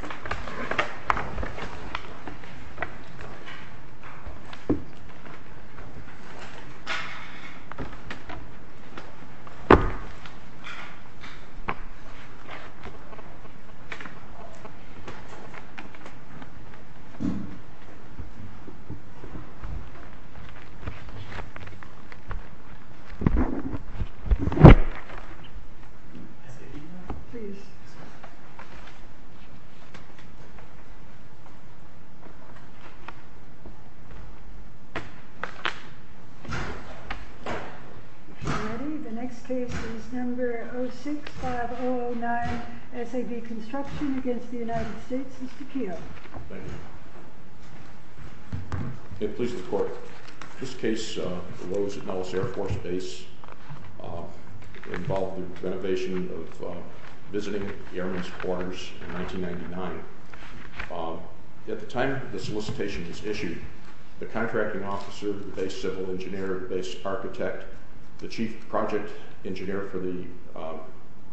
Entrance trace The next case is number 06-5009, SAB Construction against the United States. Mr. Keough. Thank you. It pleases the court. This case arose at Nellis Air Force Base. It involved the renovation of visiting airman's quarters in 1999. At the time the solicitation was issued, the contracting officer, the base civil engineer, the base architect, the chief project engineer for the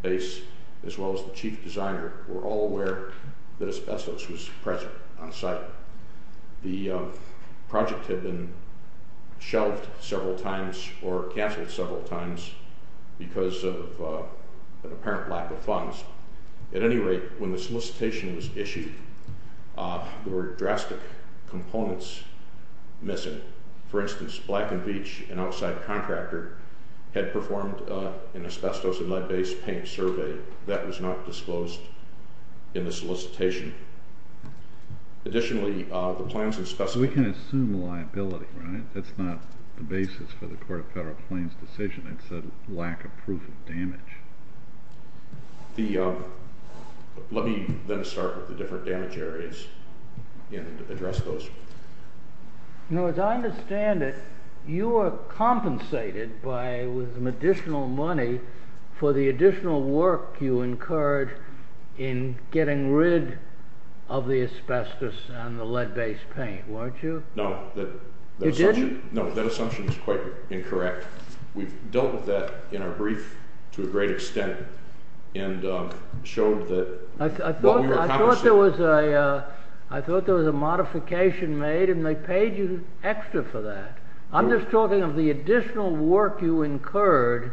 base, as well as the chief designer were all aware that asbestos was present on site. The project had been shelved several times or cancelled several times because of an apparent lack of funds. At any rate, when the solicitation was issued, there were drastic components missing. For instance, Black & Veatch, an outside contractor, had performed an asbestos and lead-based paint survey. That was not disclosed in the solicitation. Additionally, the plans and specifications... We can assume liability, right? That's not the basis for the Court of Federal Claims' decision. It's a lack of proof of damage. Let me then start with the different damage areas and address those. As I understand it, you were compensated with additional money for the additional work you incurred in getting rid of the asbestos and the lead-based paint, weren't you? No. You didn't? No. That assumption is quite incorrect. We've dealt with that in our brief to a great extent and showed that... I thought there was a modification made and they paid you extra for that. I'm just talking of the additional work you incurred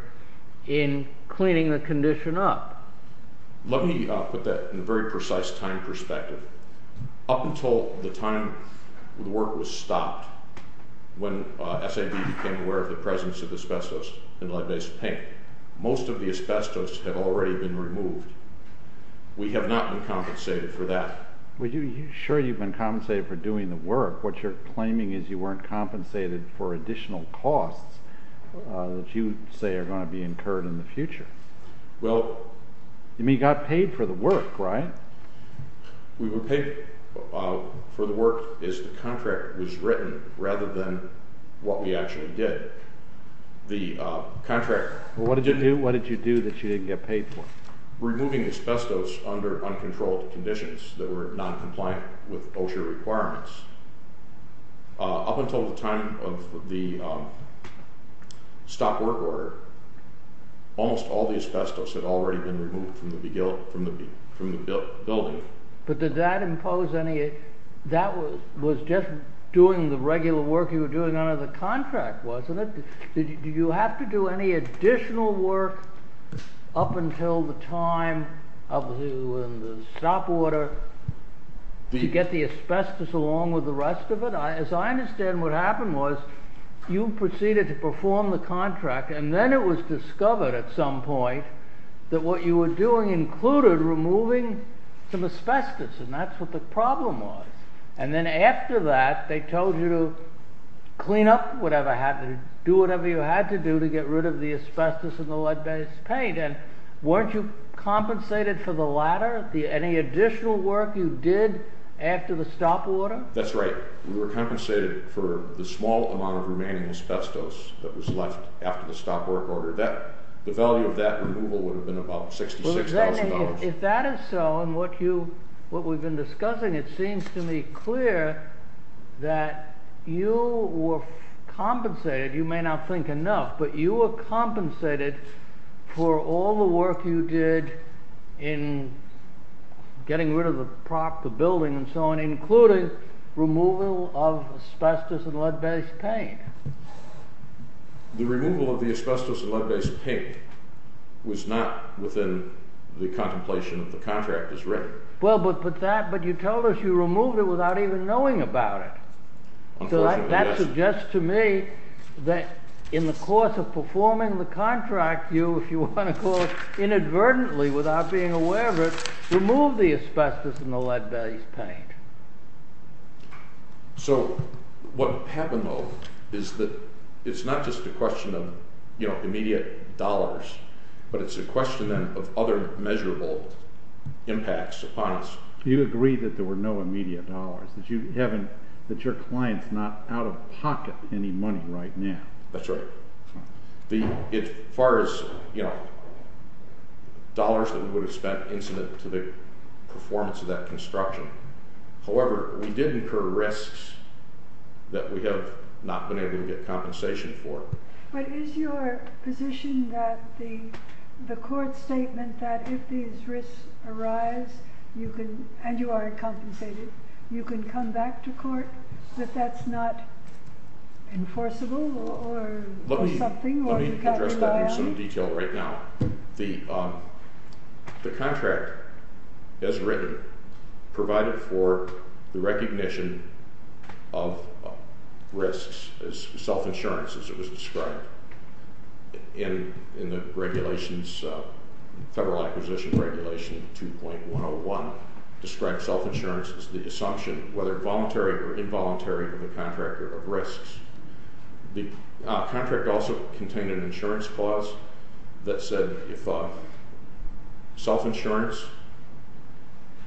in cleaning the condition up. Let me put that in a very precise time perspective. Up until the time the work was stopped, when SAB became aware of the presence of asbestos in lead-based paint, most of the asbestos had already been removed. We have not been compensated for that. Sure, you've been compensated for doing the work. What you're claiming is you weren't compensated for additional costs that you say are going to be incurred in the future. You mean you got paid for the work, right? We were paid for the work as the contract was written rather than what we actually did. What did you do that you didn't get paid for? Removing asbestos under uncontrolled conditions that were non-compliant with OSHA requirements. Up until the time of the stop work order, almost all the asbestos had already been removed from the building. But that was just doing the regular work you were doing under the contract, wasn't it? Did you have to do any additional work up until the time of the stop order to get the asbestos along with the rest of it? As I understand, what happened was you proceeded to perform the contract, and then it was discovered at some point that what you were doing included removing some asbestos, and that's what the problem was. And then after that, they told you to clean up whatever happened, do whatever you had to do to get rid of the asbestos in the lead-based paint. And weren't you compensated for the latter, any additional work you did after the stop order? That's right. We were compensated for the small amount of remaining asbestos that was left after the stop work order. The value of that removal would have been about $66,000. If that is so, and what we've been discussing, it seems to me clear that you were compensated—you may not think enough—but you were compensated for all the work you did in getting rid of the prop, the building, and so on, including removal of asbestos and lead-based paint. The removal of the asbestos and lead-based paint was not within the contemplation of the contract as written. Well, but you told us you removed it without even knowing about it. Unfortunately, yes. That suggests to me that in the course of performing the contract, you, if you want to call it inadvertently without being aware of it, removed the asbestos and the lead-based paint. So what happened, though, is that it's not just a question of immediate dollars, but it's a question then of other measurable impacts upon us. You agreed that there were no immediate dollars, that you haven't—that your client's not out of pocket any money right now. That's right. As far as dollars that we would have spent incident to the performance of that construction, however, we did incur risks that we have not been able to get compensation for. But is your position that the court's statement that if these risks arise, you can—and you are compensated—you can come back to court, that that's not enforceable or something? Let me address that in some detail right now. The contract, as written, provided for the recognition of risks as self-insurance, as it was described in the regulations, Federal Acquisition Regulation 2.101, described self-insurance as the assumption, whether voluntary or involuntary, of the contractor of risks. The contract also contained an insurance clause that said if self-insurance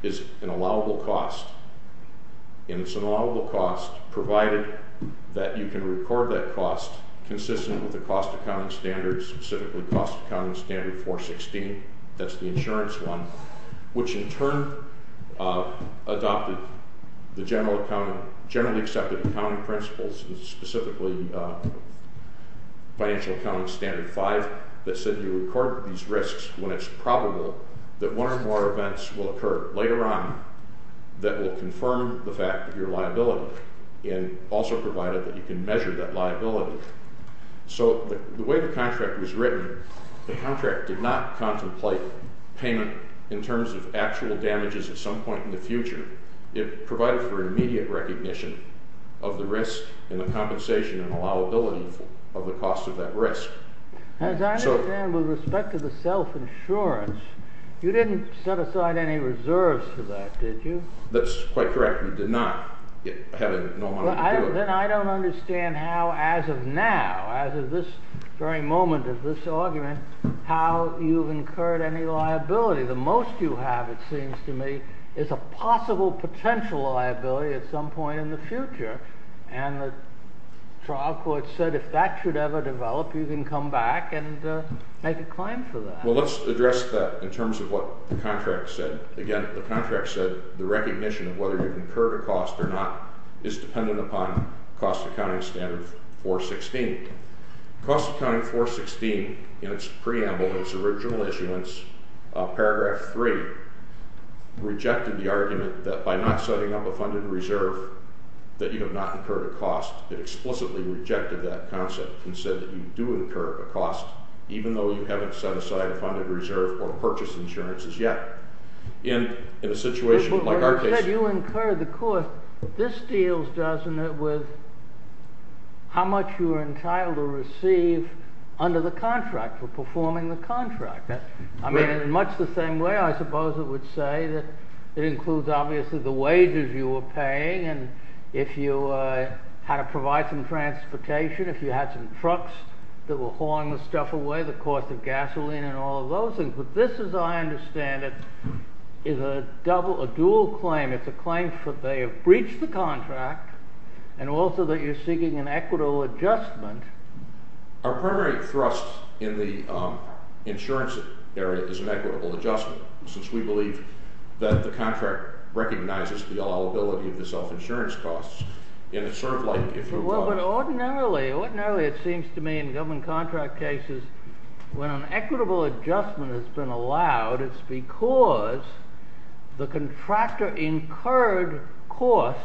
is an allowable cost, and it's an allowable cost provided that you can record that cost consistent with the cost accounting standards, specifically cost accounting standard 4.16, that's the insurance one, which in turn adopted the generally accepted accounting principles, specifically financial accounting standard 5, that said you record these risks when it's probable that one or more events will occur later on that will confirm the fact that you're liable, and also provided that you can measure that liability. So the way the contract was written, the contract did not contemplate payment in terms of actual damages at some point in the future. It provided for immediate recognition of the risk and the compensation and allowability of the cost of that risk. As I understand, with respect to the self-insurance, you didn't set aside any reserves for that, did you? That's quite correct. You did not have a normal ability. Then I don't understand how, as of now, as of this very moment of this argument, how you've incurred any liability. The most you have, it seems to me, is a possible potential liability at some point in the future. And the trial court said if that should ever develop, you can come back and make a claim for that. Well, let's address that in terms of what the contract said. Again, the contract said the recognition of whether you've incurred a cost or not is dependent upon Cost Accounting Standard 416. Cost Accounting 416, in its preamble, in its original issuance, paragraph 3, rejected the argument that by not setting up a funded reserve that you have not incurred a cost. It explicitly rejected that concept and said that you do incur a cost, even though you haven't set aside a funded reserve or purchased insurances yet. In a situation like our case. But you said you incurred the cost. This deals, doesn't it, with how much you are entitled to receive under the contract, for performing the contract. I mean, in much the same way, I suppose it would say that it includes, obviously, the wages you were paying. And if you had to provide some transportation, if you had some trucks that were hauling the stuff away, the cost of gasoline and all of those things. But this, as I understand it, is a dual claim. It's a claim that they have breached the contract, and also that you're seeking an equitable adjustment. Our primary thrust in the insurance area is an equitable adjustment, since we believe that the contract recognizes the allowability of the self-insurance costs. And it's sort of like if you were… But ordinarily, it seems to me in government contract cases, when an equitable adjustment has been allowed, it's because the contractor incurred costs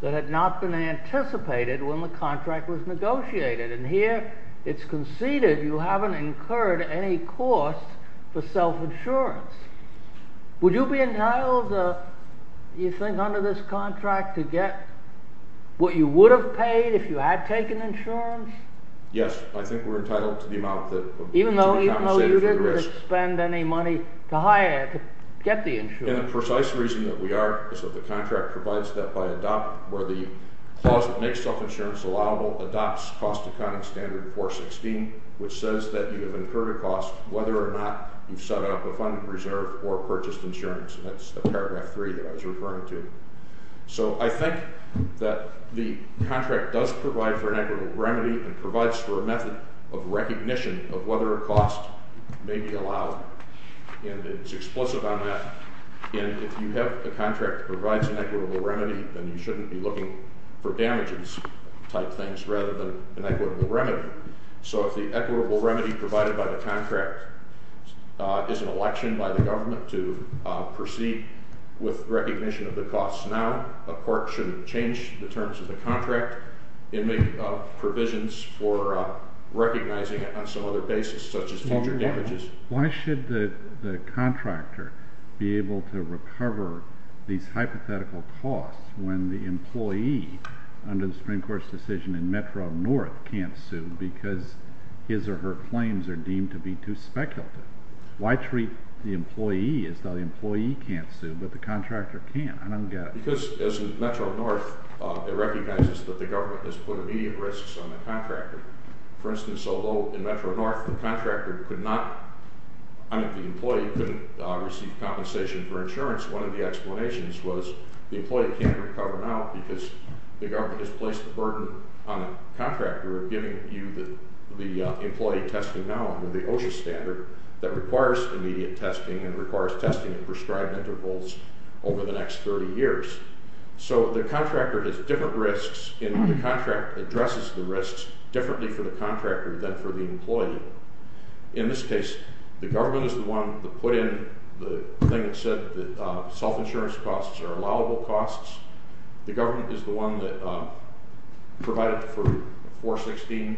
that had not been anticipated when the contract was negotiated. And here, it's conceded you haven't incurred any costs for self-insurance. Would you be entitled, you think, under this contract to get what you would have paid if you had taken insurance? Yes, I think we're entitled to the amount that needs to be compensated for the risk. Even though you didn't expend any money to get the insurance? And the precise reason that we are is that the contract provides that by adopt… or the clause that makes self-insurance allowable adopts cost-economic standard 416, which says that you have incurred a cost whether or not you've set up a fund reserve or purchased insurance. That's the paragraph 3 that I was referring to. So I think that the contract does provide for an equitable remedy and provides for a method of recognition of whether a cost may be allowed. And it's explicit on that. And if you have a contract that provides an equitable remedy, then you shouldn't be looking for damages type things rather than an equitable remedy. So if the equitable remedy provided by the contract is an election by the government to proceed with recognition of the costs now, a court shouldn't change the terms of the contract and make provisions for recognizing it on some other basis, such as future damages. Why should the contractor be able to recover these hypothetical costs when the employee under the Supreme Court's decision in Metro-North can't sue because his or her claims are deemed to be too speculative? Why treat the employee as though the employee can't sue but the contractor can? I don't get it. Because as in Metro-North, it recognizes that the government has put immediate risks on the contractor. For instance, although in Metro-North the contractor could not— I mean, the employee couldn't receive compensation for insurance, one of the explanations was the employee can't recover now because the government has placed the burden on the contractor of giving you the employee testing now under the OSHA standard that requires immediate testing and requires testing at prescribed intervals over the next 30 years. So the contractor has different risks, and the contract addresses the risks differently for the contractor than for the employee. In this case, the government is the one that put in the thing that said that self-insurance costs are allowable costs. The government is the one that provided for 416,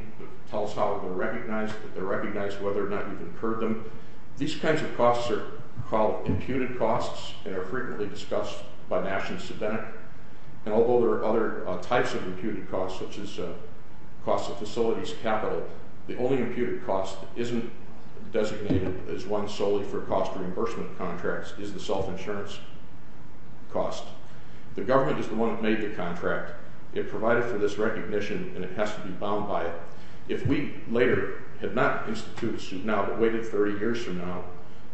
tells how they're recognized, that they're recognized, whether or not you've incurred them. These kinds of costs are called imputed costs and are frequently discussed by national sedentary. And although there are other types of imputed costs, such as costs of facilities capital, the only imputed cost that isn't designated as one solely for cost reimbursement contracts is the self-insurance cost. The government is the one that made the contract. It provided for this recognition, and it has to be bound by it. If we later had not instituted suit now but waited 30 years from now,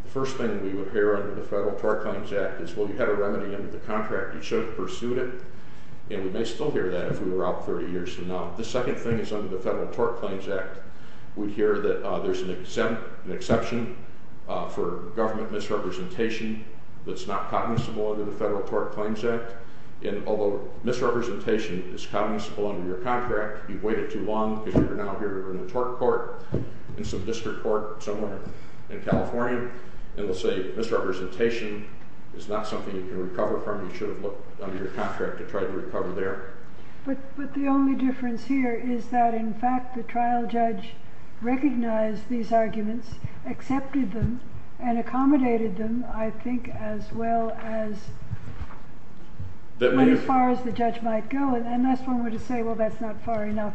the first thing we would hear under the Federal Tort Claims Act is, well, you had a remedy under the contract, you should have pursued it. And we may still hear that if we were out 30 years from now. The second thing is under the Federal Tort Claims Act, we hear that there's an exception for government misrepresentation that's not cognizable under the Federal Tort Claims Act. And although misrepresentation is cognizable under your contract, you've waited too long because you're now here in the tort court, in some district court somewhere in California, and we'll say misrepresentation is not something you can recover from. You should have looked under your contract to try to recover there. But the only difference here is that, in fact, the trial judge recognized these arguments, accepted them, and accommodated them, I think, as well as as far as the judge might go. Unless one were to say, well, that's not far enough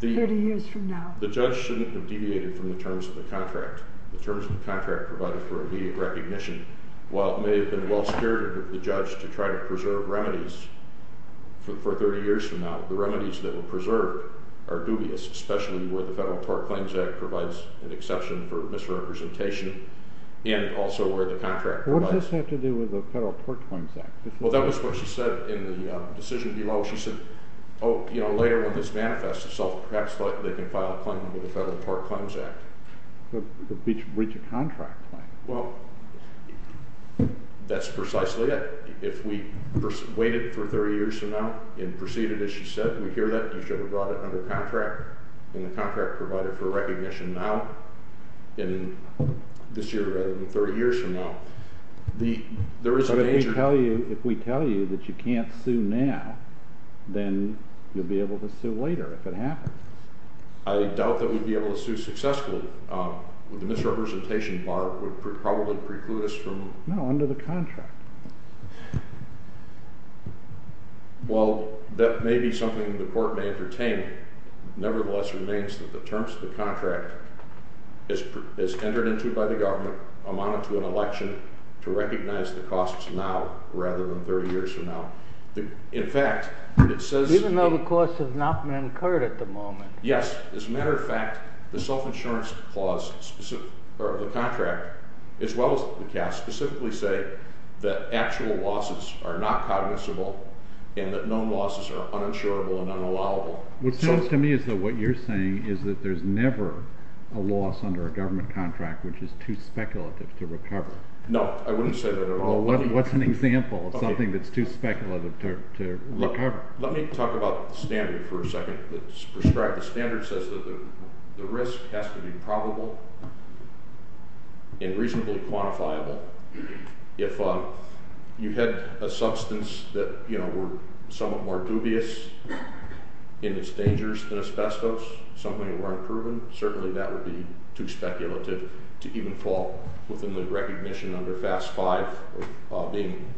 30 years from now. The judge shouldn't have deviated from the terms of the contract. The terms of the contract provided for immediate recognition. While it may have been well-spirited of the judge to try to preserve remedies for 30 years from now, the remedies that were preserved are dubious, especially where the Federal Tort Claims Act provides an exception for misrepresentation and also where the contract provides. What does this have to do with the Federal Tort Claims Act? Well, that was what she said in the decision below. She said, oh, you know, later when this manifests itself, perhaps they can file a claim under the Federal Tort Claims Act. But breach of contract claim. Well, that's precisely it. If we waited for 30 years from now and proceeded as she said, we hear that, you should have brought it under contract and the contract provided for recognition now and this year rather than 30 years from now. There is a danger. But if we tell you that you can't sue now, then you'll be able to sue later if it happens. I doubt that we'd be able to sue successfully. The misrepresentation bar would probably preclude us from... No, under the contract. Well, that may be something the court may entertain. Nevertheless, it remains that the terms of the contract is entered into by the government, amounted to an election to recognize the costs now rather than 30 years from now. In fact, it says... No costs have not been incurred at the moment. Yes. As a matter of fact, the self-insurance clause of the contract, as well as the cast, specifically say that actual losses are not cognizable and that known losses are uninsurable and unallowable. What seems to me is that what you're saying is that there's never a loss under a government contract, which is too speculative to recover. No, I wouldn't say that at all. What's an example of something that's too speculative to recover? Let me talk about the standard for a second that's prescribed. The standard says that the risk has to be probable and reasonably quantifiable. If you had a substance that, you know, were somewhat more dubious in its dangers than asbestos, something that weren't proven, certainly that would be too speculative to even fall within the recognition under FAST-5 of being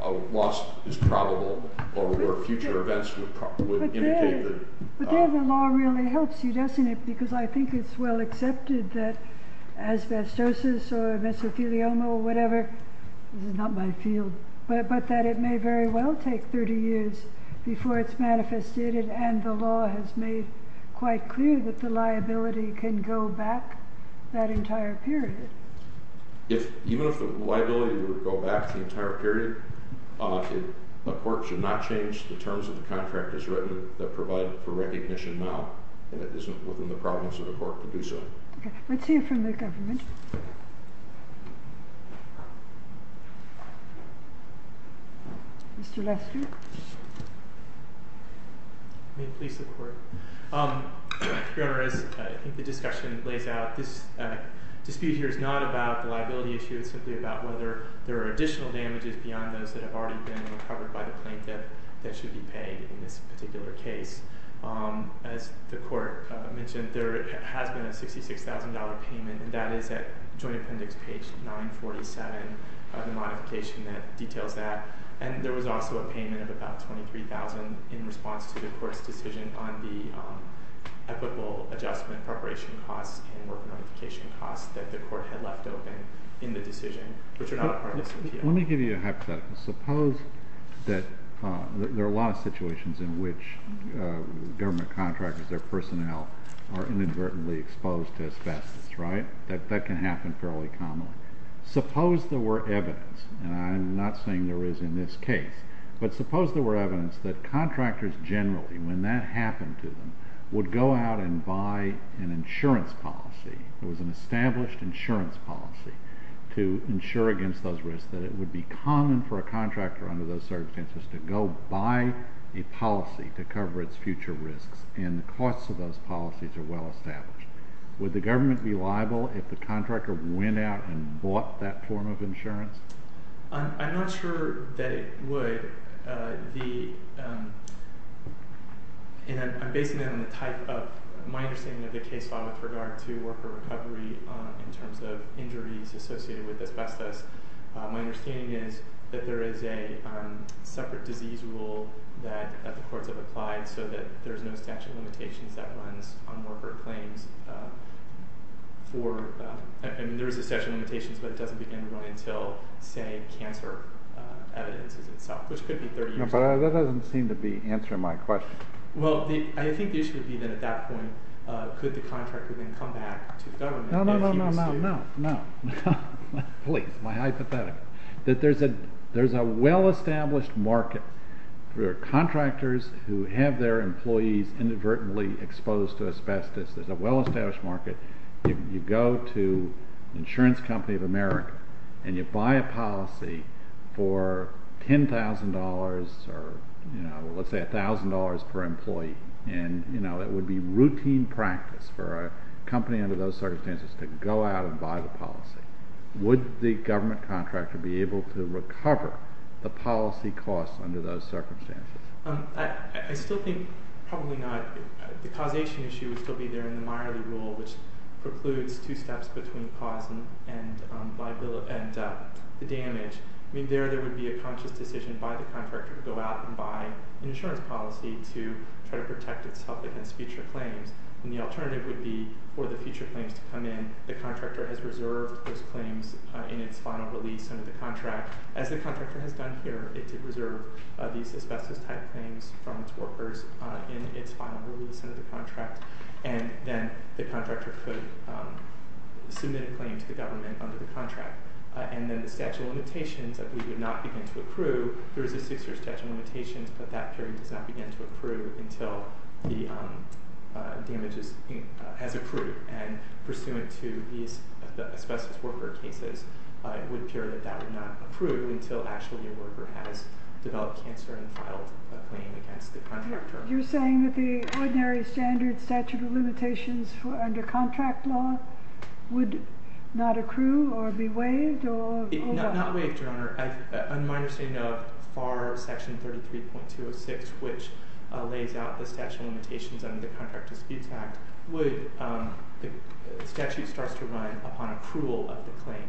a loss that's probable or where future events would indicate that... But then the law really helps you, doesn't it? Because I think it's well accepted that asbestosis or mesothelioma or whatever, this is not my field, but that it may very well take 30 years before it's manifested and the law has made quite clear that the liability can go back that entire period. Even if the liability were to go back the entire period, a court should not change the terms of the contract as written that provide for recognition now and it isn't within the province of the court to do so. Okay. Let's hear from the government. Mr. Lasziuk? May it please the Court? Your Honor, as the discussion lays out, this dispute here is not about the liability issue. It's simply about whether there are additional damages beyond those that have already been recovered by the plaintiff that should be paid in this particular case. As the Court mentioned, there has been a $66,000 payment, and that is at Joint Appendix page 947 of the modification that details that. And there was also a payment of about $23,000 in response to the Court's decision on the ethical adjustment preparation costs and work notification costs that the Court had left open in the decision, which are not a part of the suit here. Let me give you a hypothetical. Suppose that there are a lot of situations in which government contractors, their personnel are inadvertently exposed to asbestos, right? That can happen fairly commonly. Suppose there were evidence, and I'm not saying there is in this case, but suppose there were evidence that contractors generally, when that happened to them, would go out and buy an insurance policy, it was an established insurance policy to insure against those risks, that it would be common for a contractor under those circumstances to go buy a policy to cover its future risks, and the costs of those policies are well established. Would the government be liable if the contractor went out and bought that form of insurance? I'm not sure that it would. I'm basing it on the type of my understanding of the case law with regard to worker recovery in terms of injuries associated with asbestos. My understanding is that there is a separate disease rule that the courts have applied so that there's no statute of limitations that runs on worker claims. There is a statute of limitations, but it doesn't begin to run until, say, cancer evidence itself, which could be 30 years ago. But that doesn't seem to be answering my question. Well, I think the issue would be that at that point, could the contractor then come back to the government? No, no, no, no, no, no. Please, my hypothetical. There's a well-established market. There are contractors who have their employees inadvertently exposed to asbestos. There's a well-established market. You go to the insurance company of America, and you buy a policy for $10,000 or, you know, let's say $1,000 per employee, and, you know, it would be routine practice for a company under those circumstances to go out and buy the policy. Would the government contractor be able to recover the policy costs under those circumstances? I still think probably not. The causation issue would still be there in the Miley rule, which precludes two steps between cause and the damage. I mean, there there would be a conscious decision by the contractor to go out and buy an insurance policy to try to protect itself against future claims, and the alternative would be for the future claims to come in. The contractor has reserved those claims in its final release under the contract. As the contractor has done here, it did reserve these asbestos-type claims from its workers in its final release under the contract, and then the contractor could submit a claim to the government under the contract. And then the statute of limitations that we would not begin to accrue, there is a six-year statute of limitations, but that period does not begin to accrue until the damage has accrued. And pursuant to these asbestos worker cases, it would appear that that would not accrue until actually your worker has developed cancer and filed a claim against the contractor. You're saying that the ordinary standard statute of limitations under contract law would not accrue or be waived? Not waived, Your Honor. In my understanding of FAR Section 33.206, which lays out the statute of limitations under the Contract Disputes Act, the statute starts to run upon approval of the claim.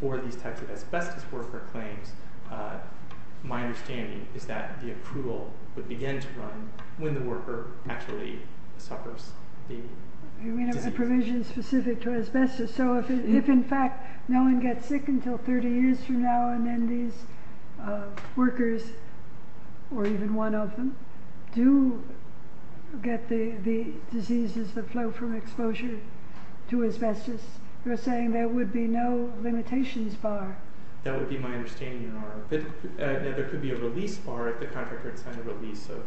For these types of asbestos worker claims, my understanding is that the approval would begin to run when the worker actually suffers the disease. You mean a provision specific to asbestos? So if, in fact, no one gets sick until 30 years from now, and then these workers, or even one of them, do get the diseases that flow from exposure to asbestos, you're saying there would be no limitations bar? That would be my understanding, Your Honor. There could be a release bar if the contractor had signed a release of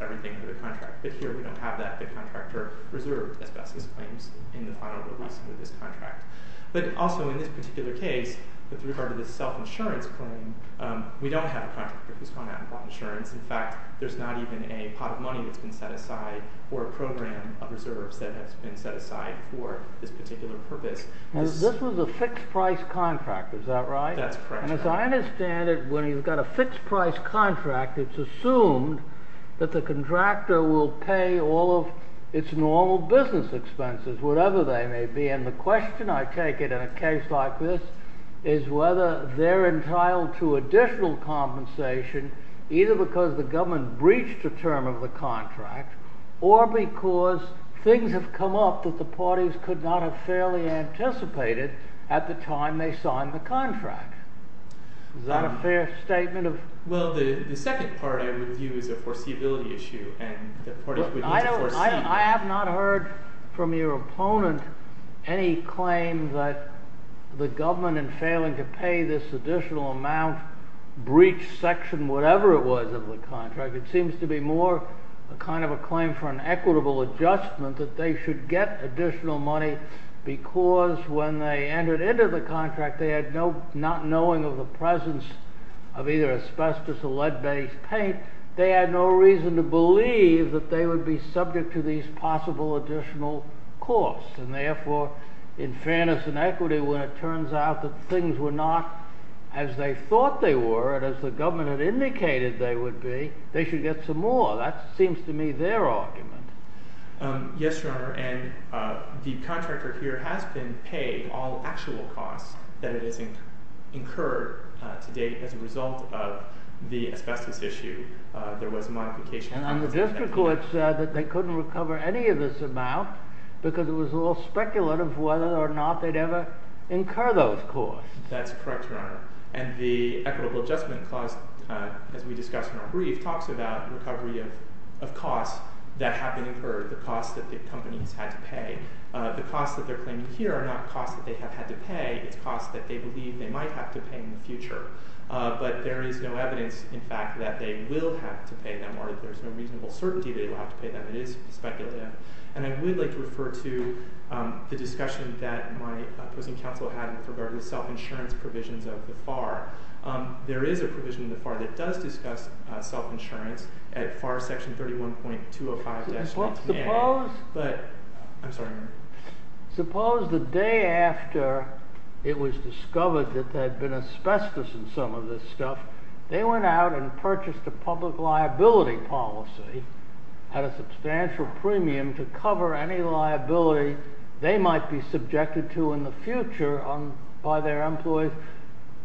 everything under the contract, but here we don't have that. The contractor reserved asbestos claims in the final release under this contract. But also in this particular case, with regard to the self-insurance claim, we don't have a contractor who's gone out and bought insurance. In fact, there's not even a pot of money that's been set aside or a program of reserves that has been set aside for this particular purpose. This was a fixed-price contract, is that right? That's correct. And as I understand it, when you've got a fixed-price contract, it's assumed that the contractor will pay all of its normal business expenses, whatever they may be. And the question, I take it, in a case like this, is whether they're entitled to additional compensation either because the government breached a term of the contract or because things have come up that the parties could not have fairly anticipated at the time they signed the contract. Is that a fair statement? Well, the second part I would view as a foreseeability issue. I have not heard from your opponent any claim that the government, in failing to pay this additional amount, breached Section whatever it was of the contract. It seems to be more a kind of a claim for an equitable adjustment that they should get additional money because when they entered into the contract, they had not knowing of the presence of either asbestos or lead-based paint. They had no reason to believe that they would be subject to these possible additional costs. And therefore, in fairness and equity, when it turns out that things were not as they thought they were and as the government had indicated they would be, they should get some more. That seems to me their argument. Yes, Your Honor. And the contractor here has been paid all actual costs that it has incurred to date as a result of the asbestos issue. There was a modification. And the district court said that they couldn't recover any of this amount because it was all speculative whether or not they'd ever incur those costs. That's correct, Your Honor. And the equitable adjustment clause, as we discussed in our brief, talks about recovery of costs that have been incurred, the costs that the companies had to pay. The costs that they're claiming here are not costs that they have had to pay. It's costs that they believe they might have to pay in the future. But there is no evidence, in fact, that they will have to pay them, or there is no reasonable certainty that they will have to pay them. It is speculative. And I would like to refer to the discussion that my opposing counsel had with regard to the self-insurance provisions of the FAR. There is a provision in the FAR that does discuss self-insurance, at FAR section 31.205-19. I'm sorry. Suppose the day after it was discovered that there had been asbestos in some of this stuff, they went out and purchased a public liability policy at a substantial premium to cover any liability they might be subjected to in the future by their employees.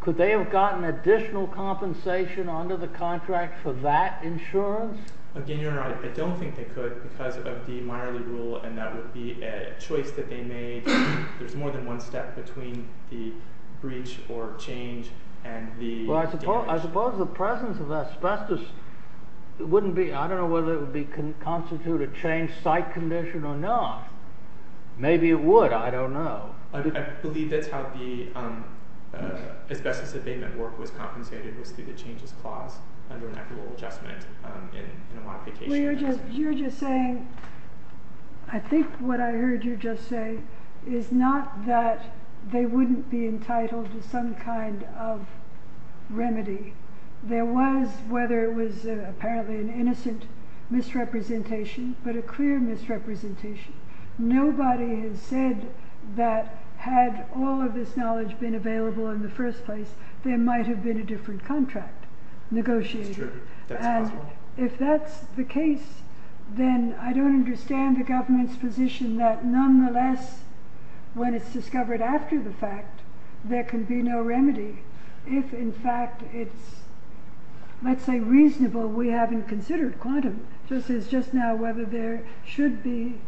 Could they have gotten additional compensation under the contract for that insurance? Again, Your Honor, I don't think they could because of the Meyerley rule, and that would be a choice that they made. There is more than one step between the breach or change and the damage. Well, I suppose the presence of asbestos wouldn't be... I don't know whether it would constitute a change site condition or not. Maybe it would. I don't know. I believe that's how the asbestos abatement work was compensated, was through the changes clause, under an equitable adjustment in a modification. You're just saying... I think what I heard you just say is not that they wouldn't be entitled to some kind of remedy. There was, whether it was apparently an innocent misrepresentation, but a clear misrepresentation. Nobody has said that had all of this knowledge been available in the first place, there might have been a different contract negotiated. That's true. That's possible. If that's the case, then I don't understand the government's position that nonetheless, when it's discovered after the fact, there can be no remedy. If in fact it's, let's say, reasonable, we haven't considered quantum. Just as just now, whether there should be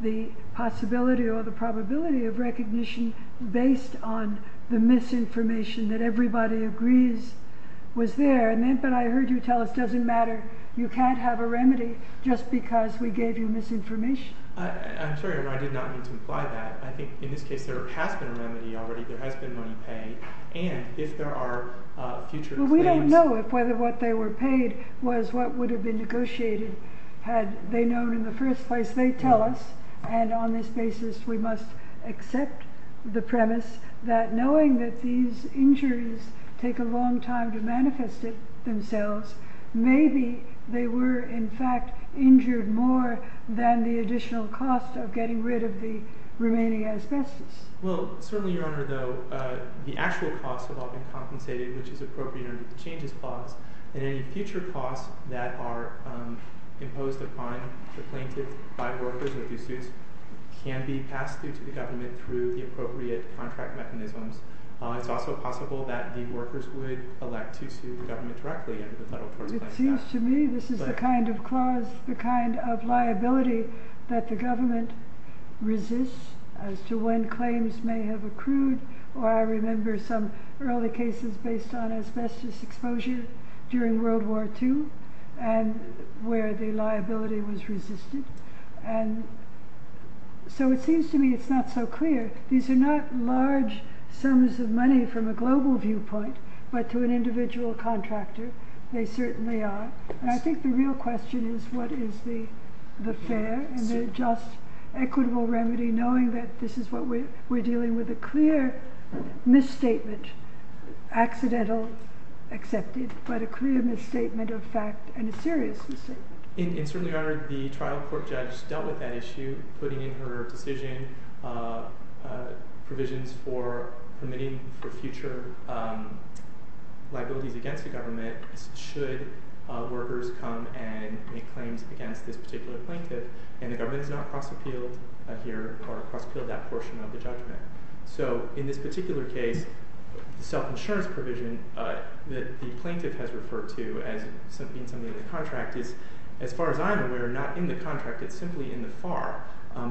the possibility or the probability of recognition based on the misinformation that everybody agrees was there. But I heard you tell us it doesn't matter. You can't have a remedy just because we gave you misinformation. I'm sorry. I did not mean to imply that. I think in this case, there has been a remedy already. There has been money paid. And if there are future... We don't know if whether what they were paid was what would have been negotiated had they known in the first place. They tell us, and on this basis, we must accept the premise that knowing that these injuries take a long time to manifest themselves, maybe they were, in fact, injured more than the additional cost of getting rid of the remaining asbestos. Well, certainly, Your Honor, though, the actual costs have all been compensated, which is appropriate under the Changes Clause. And any future costs that are imposed upon the plaintiff by workers or due suits can be passed through to the government through the appropriate contract mechanisms. It's also possible that the workers would elect to sue the government directly under the Federal Torts Plan. It seems to me this is the kind of clause, the kind of liability that the government resists as to when claims may have accrued. I remember some early cases based on asbestos exposure during World War II, where the liability was resisted. So it seems to me it's not so clear. These are not large sums of money from a global viewpoint, but to an individual contractor, they certainly are. And I think the real question is what is the fair and the just equitable remedy, knowing that this is what we're dealing with, a clear misstatement, accidental, accepted, but a clear misstatement of fact and a serious misstatement. And certainly the trial court judge dealt with that issue, putting in her decision provisions for permitting for future liabilities against the government should workers come and make claims against this particular plaintiff. And the government has not cross-appealed here or cross-appealed that portion of the judgment. So in this particular case, the self-insurance provision that the plaintiff has referred to as being something of the contract is, as far as I'm aware, not in the contract, it's simply in the FAR.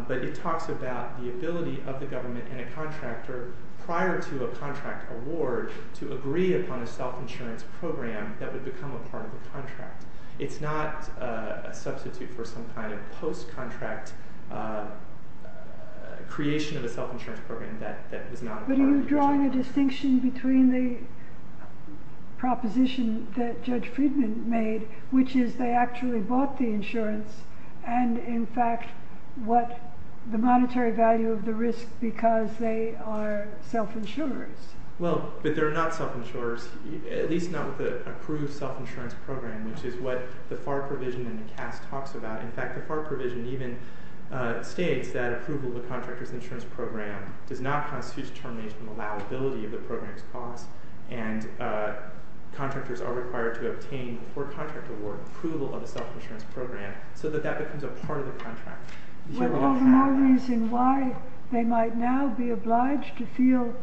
But it talks about the ability of the government and a contractor prior to a contract award to agree upon a self-insurance program that would become a part of the contract. It's not a substitute for some kind of post-contract creation You're drawing a distinction between the proposition that Judge Friedman made, which is they actually bought the insurance, and in fact what the monetary value of the risk because they are self-insurers. Well, but they're not self-insurers, at least not with an approved self-insurance program, which is what the FAR provision in the CAS talks about. In fact, the FAR provision even states that approval of a contractor's insurance program does not constitute determination of liability of the program's cost, and contractors are required to obtain before contract award approval of a self-insurance program so that that becomes a part of the contract. Well, no more reason why they might now be obliged to feel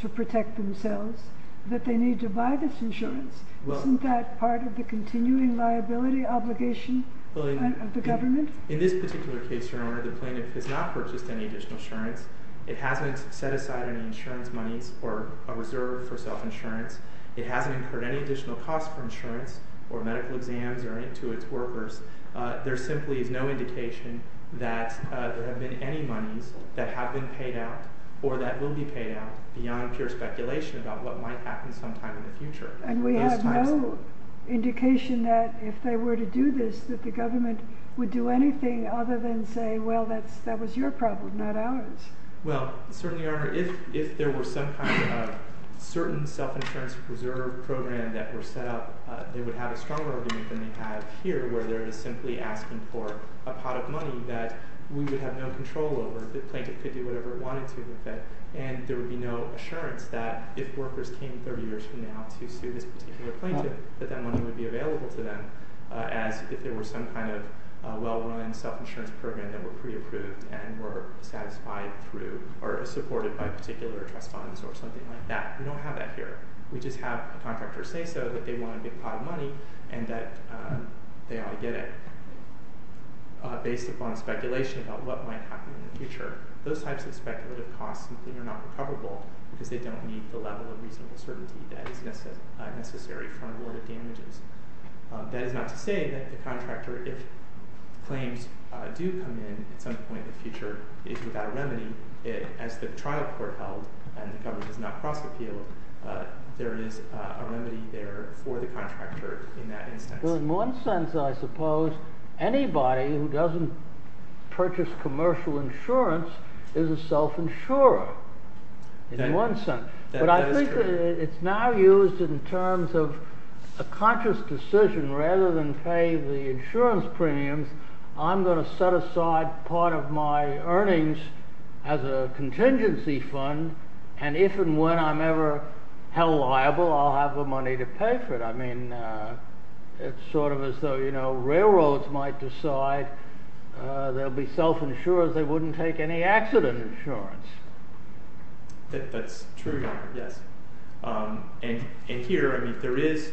to protect themselves that they need to buy this insurance. Isn't that part of the continuing liability obligation of the government? In this particular case, Your Honor, the plaintiff has not purchased any additional insurance. It hasn't set aside any insurance monies or a reserve for self-insurance. It hasn't incurred any additional costs for insurance or medical exams or to its workers. There simply is no indication that there have been any monies that have been paid out or that will be paid out beyond pure speculation about what might happen sometime in the future. And we have no indication that if they were to do this, that the government would do anything other than say, well, that was your problem, not ours. Well, certainly, Your Honor, if there were some kind of certain self-insurance reserve program that were set up, they would have a stronger argument than they have here where they're simply asking for a pot of money that we would have no control over. The plaintiff could do whatever it wanted to with it, and there would be no assurance that if workers came 30 years from now to sue this particular plaintiff, that that money would be available to them as if there were some kind of well-run self-insurance program that were pre-approved and were satisfied through or supported by particular trust funds or something like that. We don't have that here. We just have a contractor say so that they want a big pot of money and that they ought to get it based upon speculation about what might happen in the future. Those types of speculative costs simply are not recoverable because they don't meet the level of reasonable certainty that is necessary from awarded damages. That is not to say that the contractor, if claims do come in at some point in the future, is without a remedy as the trial court held and the government does not cross-appeal, there is a remedy there for the contractor in that instance. Well, in one sense, I suppose, anybody who doesn't purchase commercial insurance is a self-insurer in one sense. But I think it's now used in terms of a conscious decision. Rather than pay the insurance premiums, I'm going to set aside part of my earnings as a contingency fund and if and when I'm ever held liable, I'll have the money to pay for it. It's sort of as though railroads might decide there'll be self-insurers that wouldn't take any accident insurance. That's true, Your Honor, yes. And here, I mean, there is,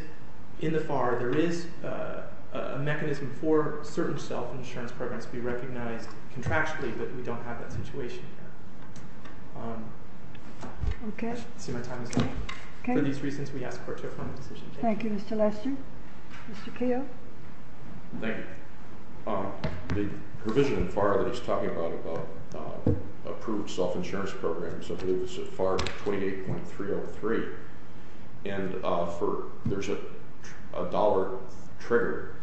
in the FAR, there is a mechanism for certain self-insurance programs to be recognized contractually, but we don't have that situation here. Okay. I see my time is up. Okay. For these reasons, we ask the Court to affirm the decision. Thank you, Mr. Lester. Mr. Kale. Thank you. The provision in the FAR that it's talking about approved self-insurance programs, I believe it's FAR 28.303, and there's a dollar trigger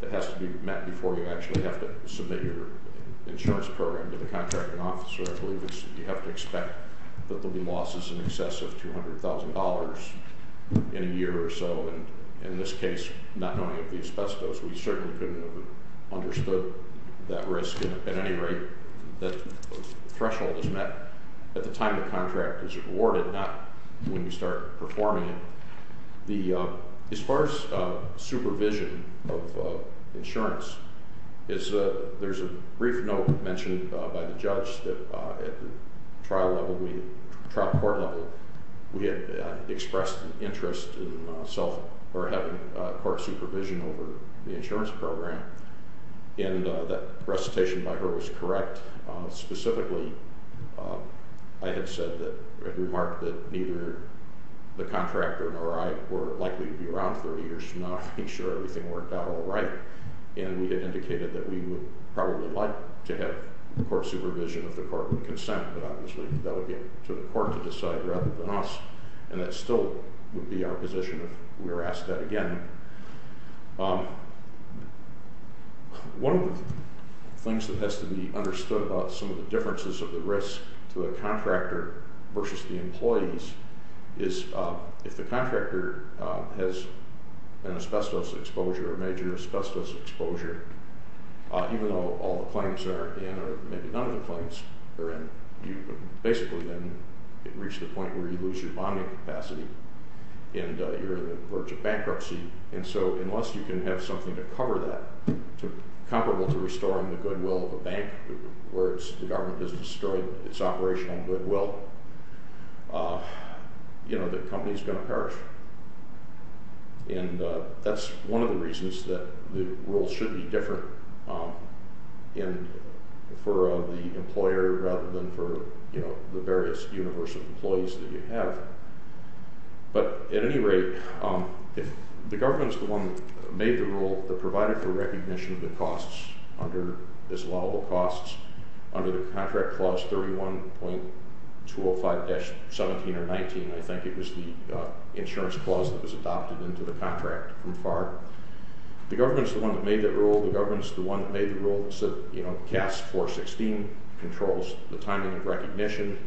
that has to be met before you actually have to submit your insurance program to the contracting officer. I believe you have to expect that there'll be losses in excess of $200,000 in a year or so, and in this case, not knowing of the asbestos, we certainly couldn't have understood that risk at any rate that the threshold is met at the time the contract is awarded, not when you start performing it. As far as supervision of insurance, there's a brief note mentioned by the judge that at the trial court level, we had expressed an interest in having court supervision over the insurance program, and that recitation by her was correct. Specifically, I had remarked that neither the contractor nor I were likely to be around 30 years from now to make sure everything worked out all right, and we had indicated that we would probably like to have court supervision if the Court would consent, but obviously that would get to the Court to decide rather than us, and that still would be our position if we were asked that again. One of the things that has to be understood about some of the differences of the risk to a contractor versus the employees is if the contractor has an asbestos exposure, a major asbestos exposure, even though all the claims are in or maybe none of the claims are in, you basically then reach the point where you lose your bonding capacity and you're on the verge of bankruptcy, and so unless you can have something to cover that, comparable to restoring the goodwill of a bank where the government has destroyed its operational goodwill, you know, the company's going to perish. And that's one of the reasons that the rules should be different for the employer rather than for, you know, the various universal employees that you have. But at any rate, the government's the one that made the rule that provided for recognition of the costs under this law, the costs, under the Contract Clause 31.205-17 or 19, I think it was the insurance clause that was adopted into the contract from FAR. The government's the one that made that rule. The government's the one that made the rule that said, you know, CAS 416 controls the timing of recognition.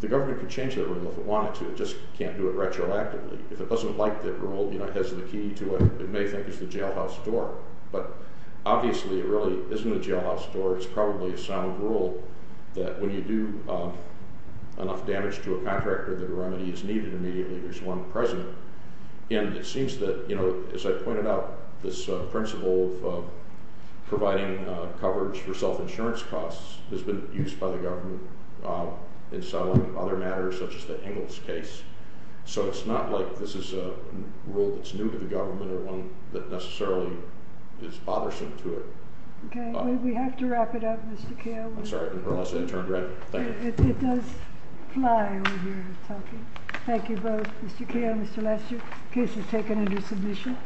The government could change that rule if it wanted to. It just can't do it retroactively. If it doesn't like that rule, you know, it has the key to what it may think is the jailhouse door. But obviously it really isn't a jailhouse door. It's probably a sound rule that when you do enough damage to a contractor that a remedy is needed immediately, there's one present. And it seems that, you know, as I pointed out, this principle of providing coverage for self-insurance costs has been used by the government in selling other matters such as the Ingalls case. So it's not like this is a rule that's new to the government or one that necessarily is bothersome to it. Okay. We have to wrap it up, Mr. Kale. I'm sorry. I didn't realize I had turned red. Thank you. It does fly when you're talking. Thank you both, Mr. Kale and Mr. Lester. The case is taken under submission.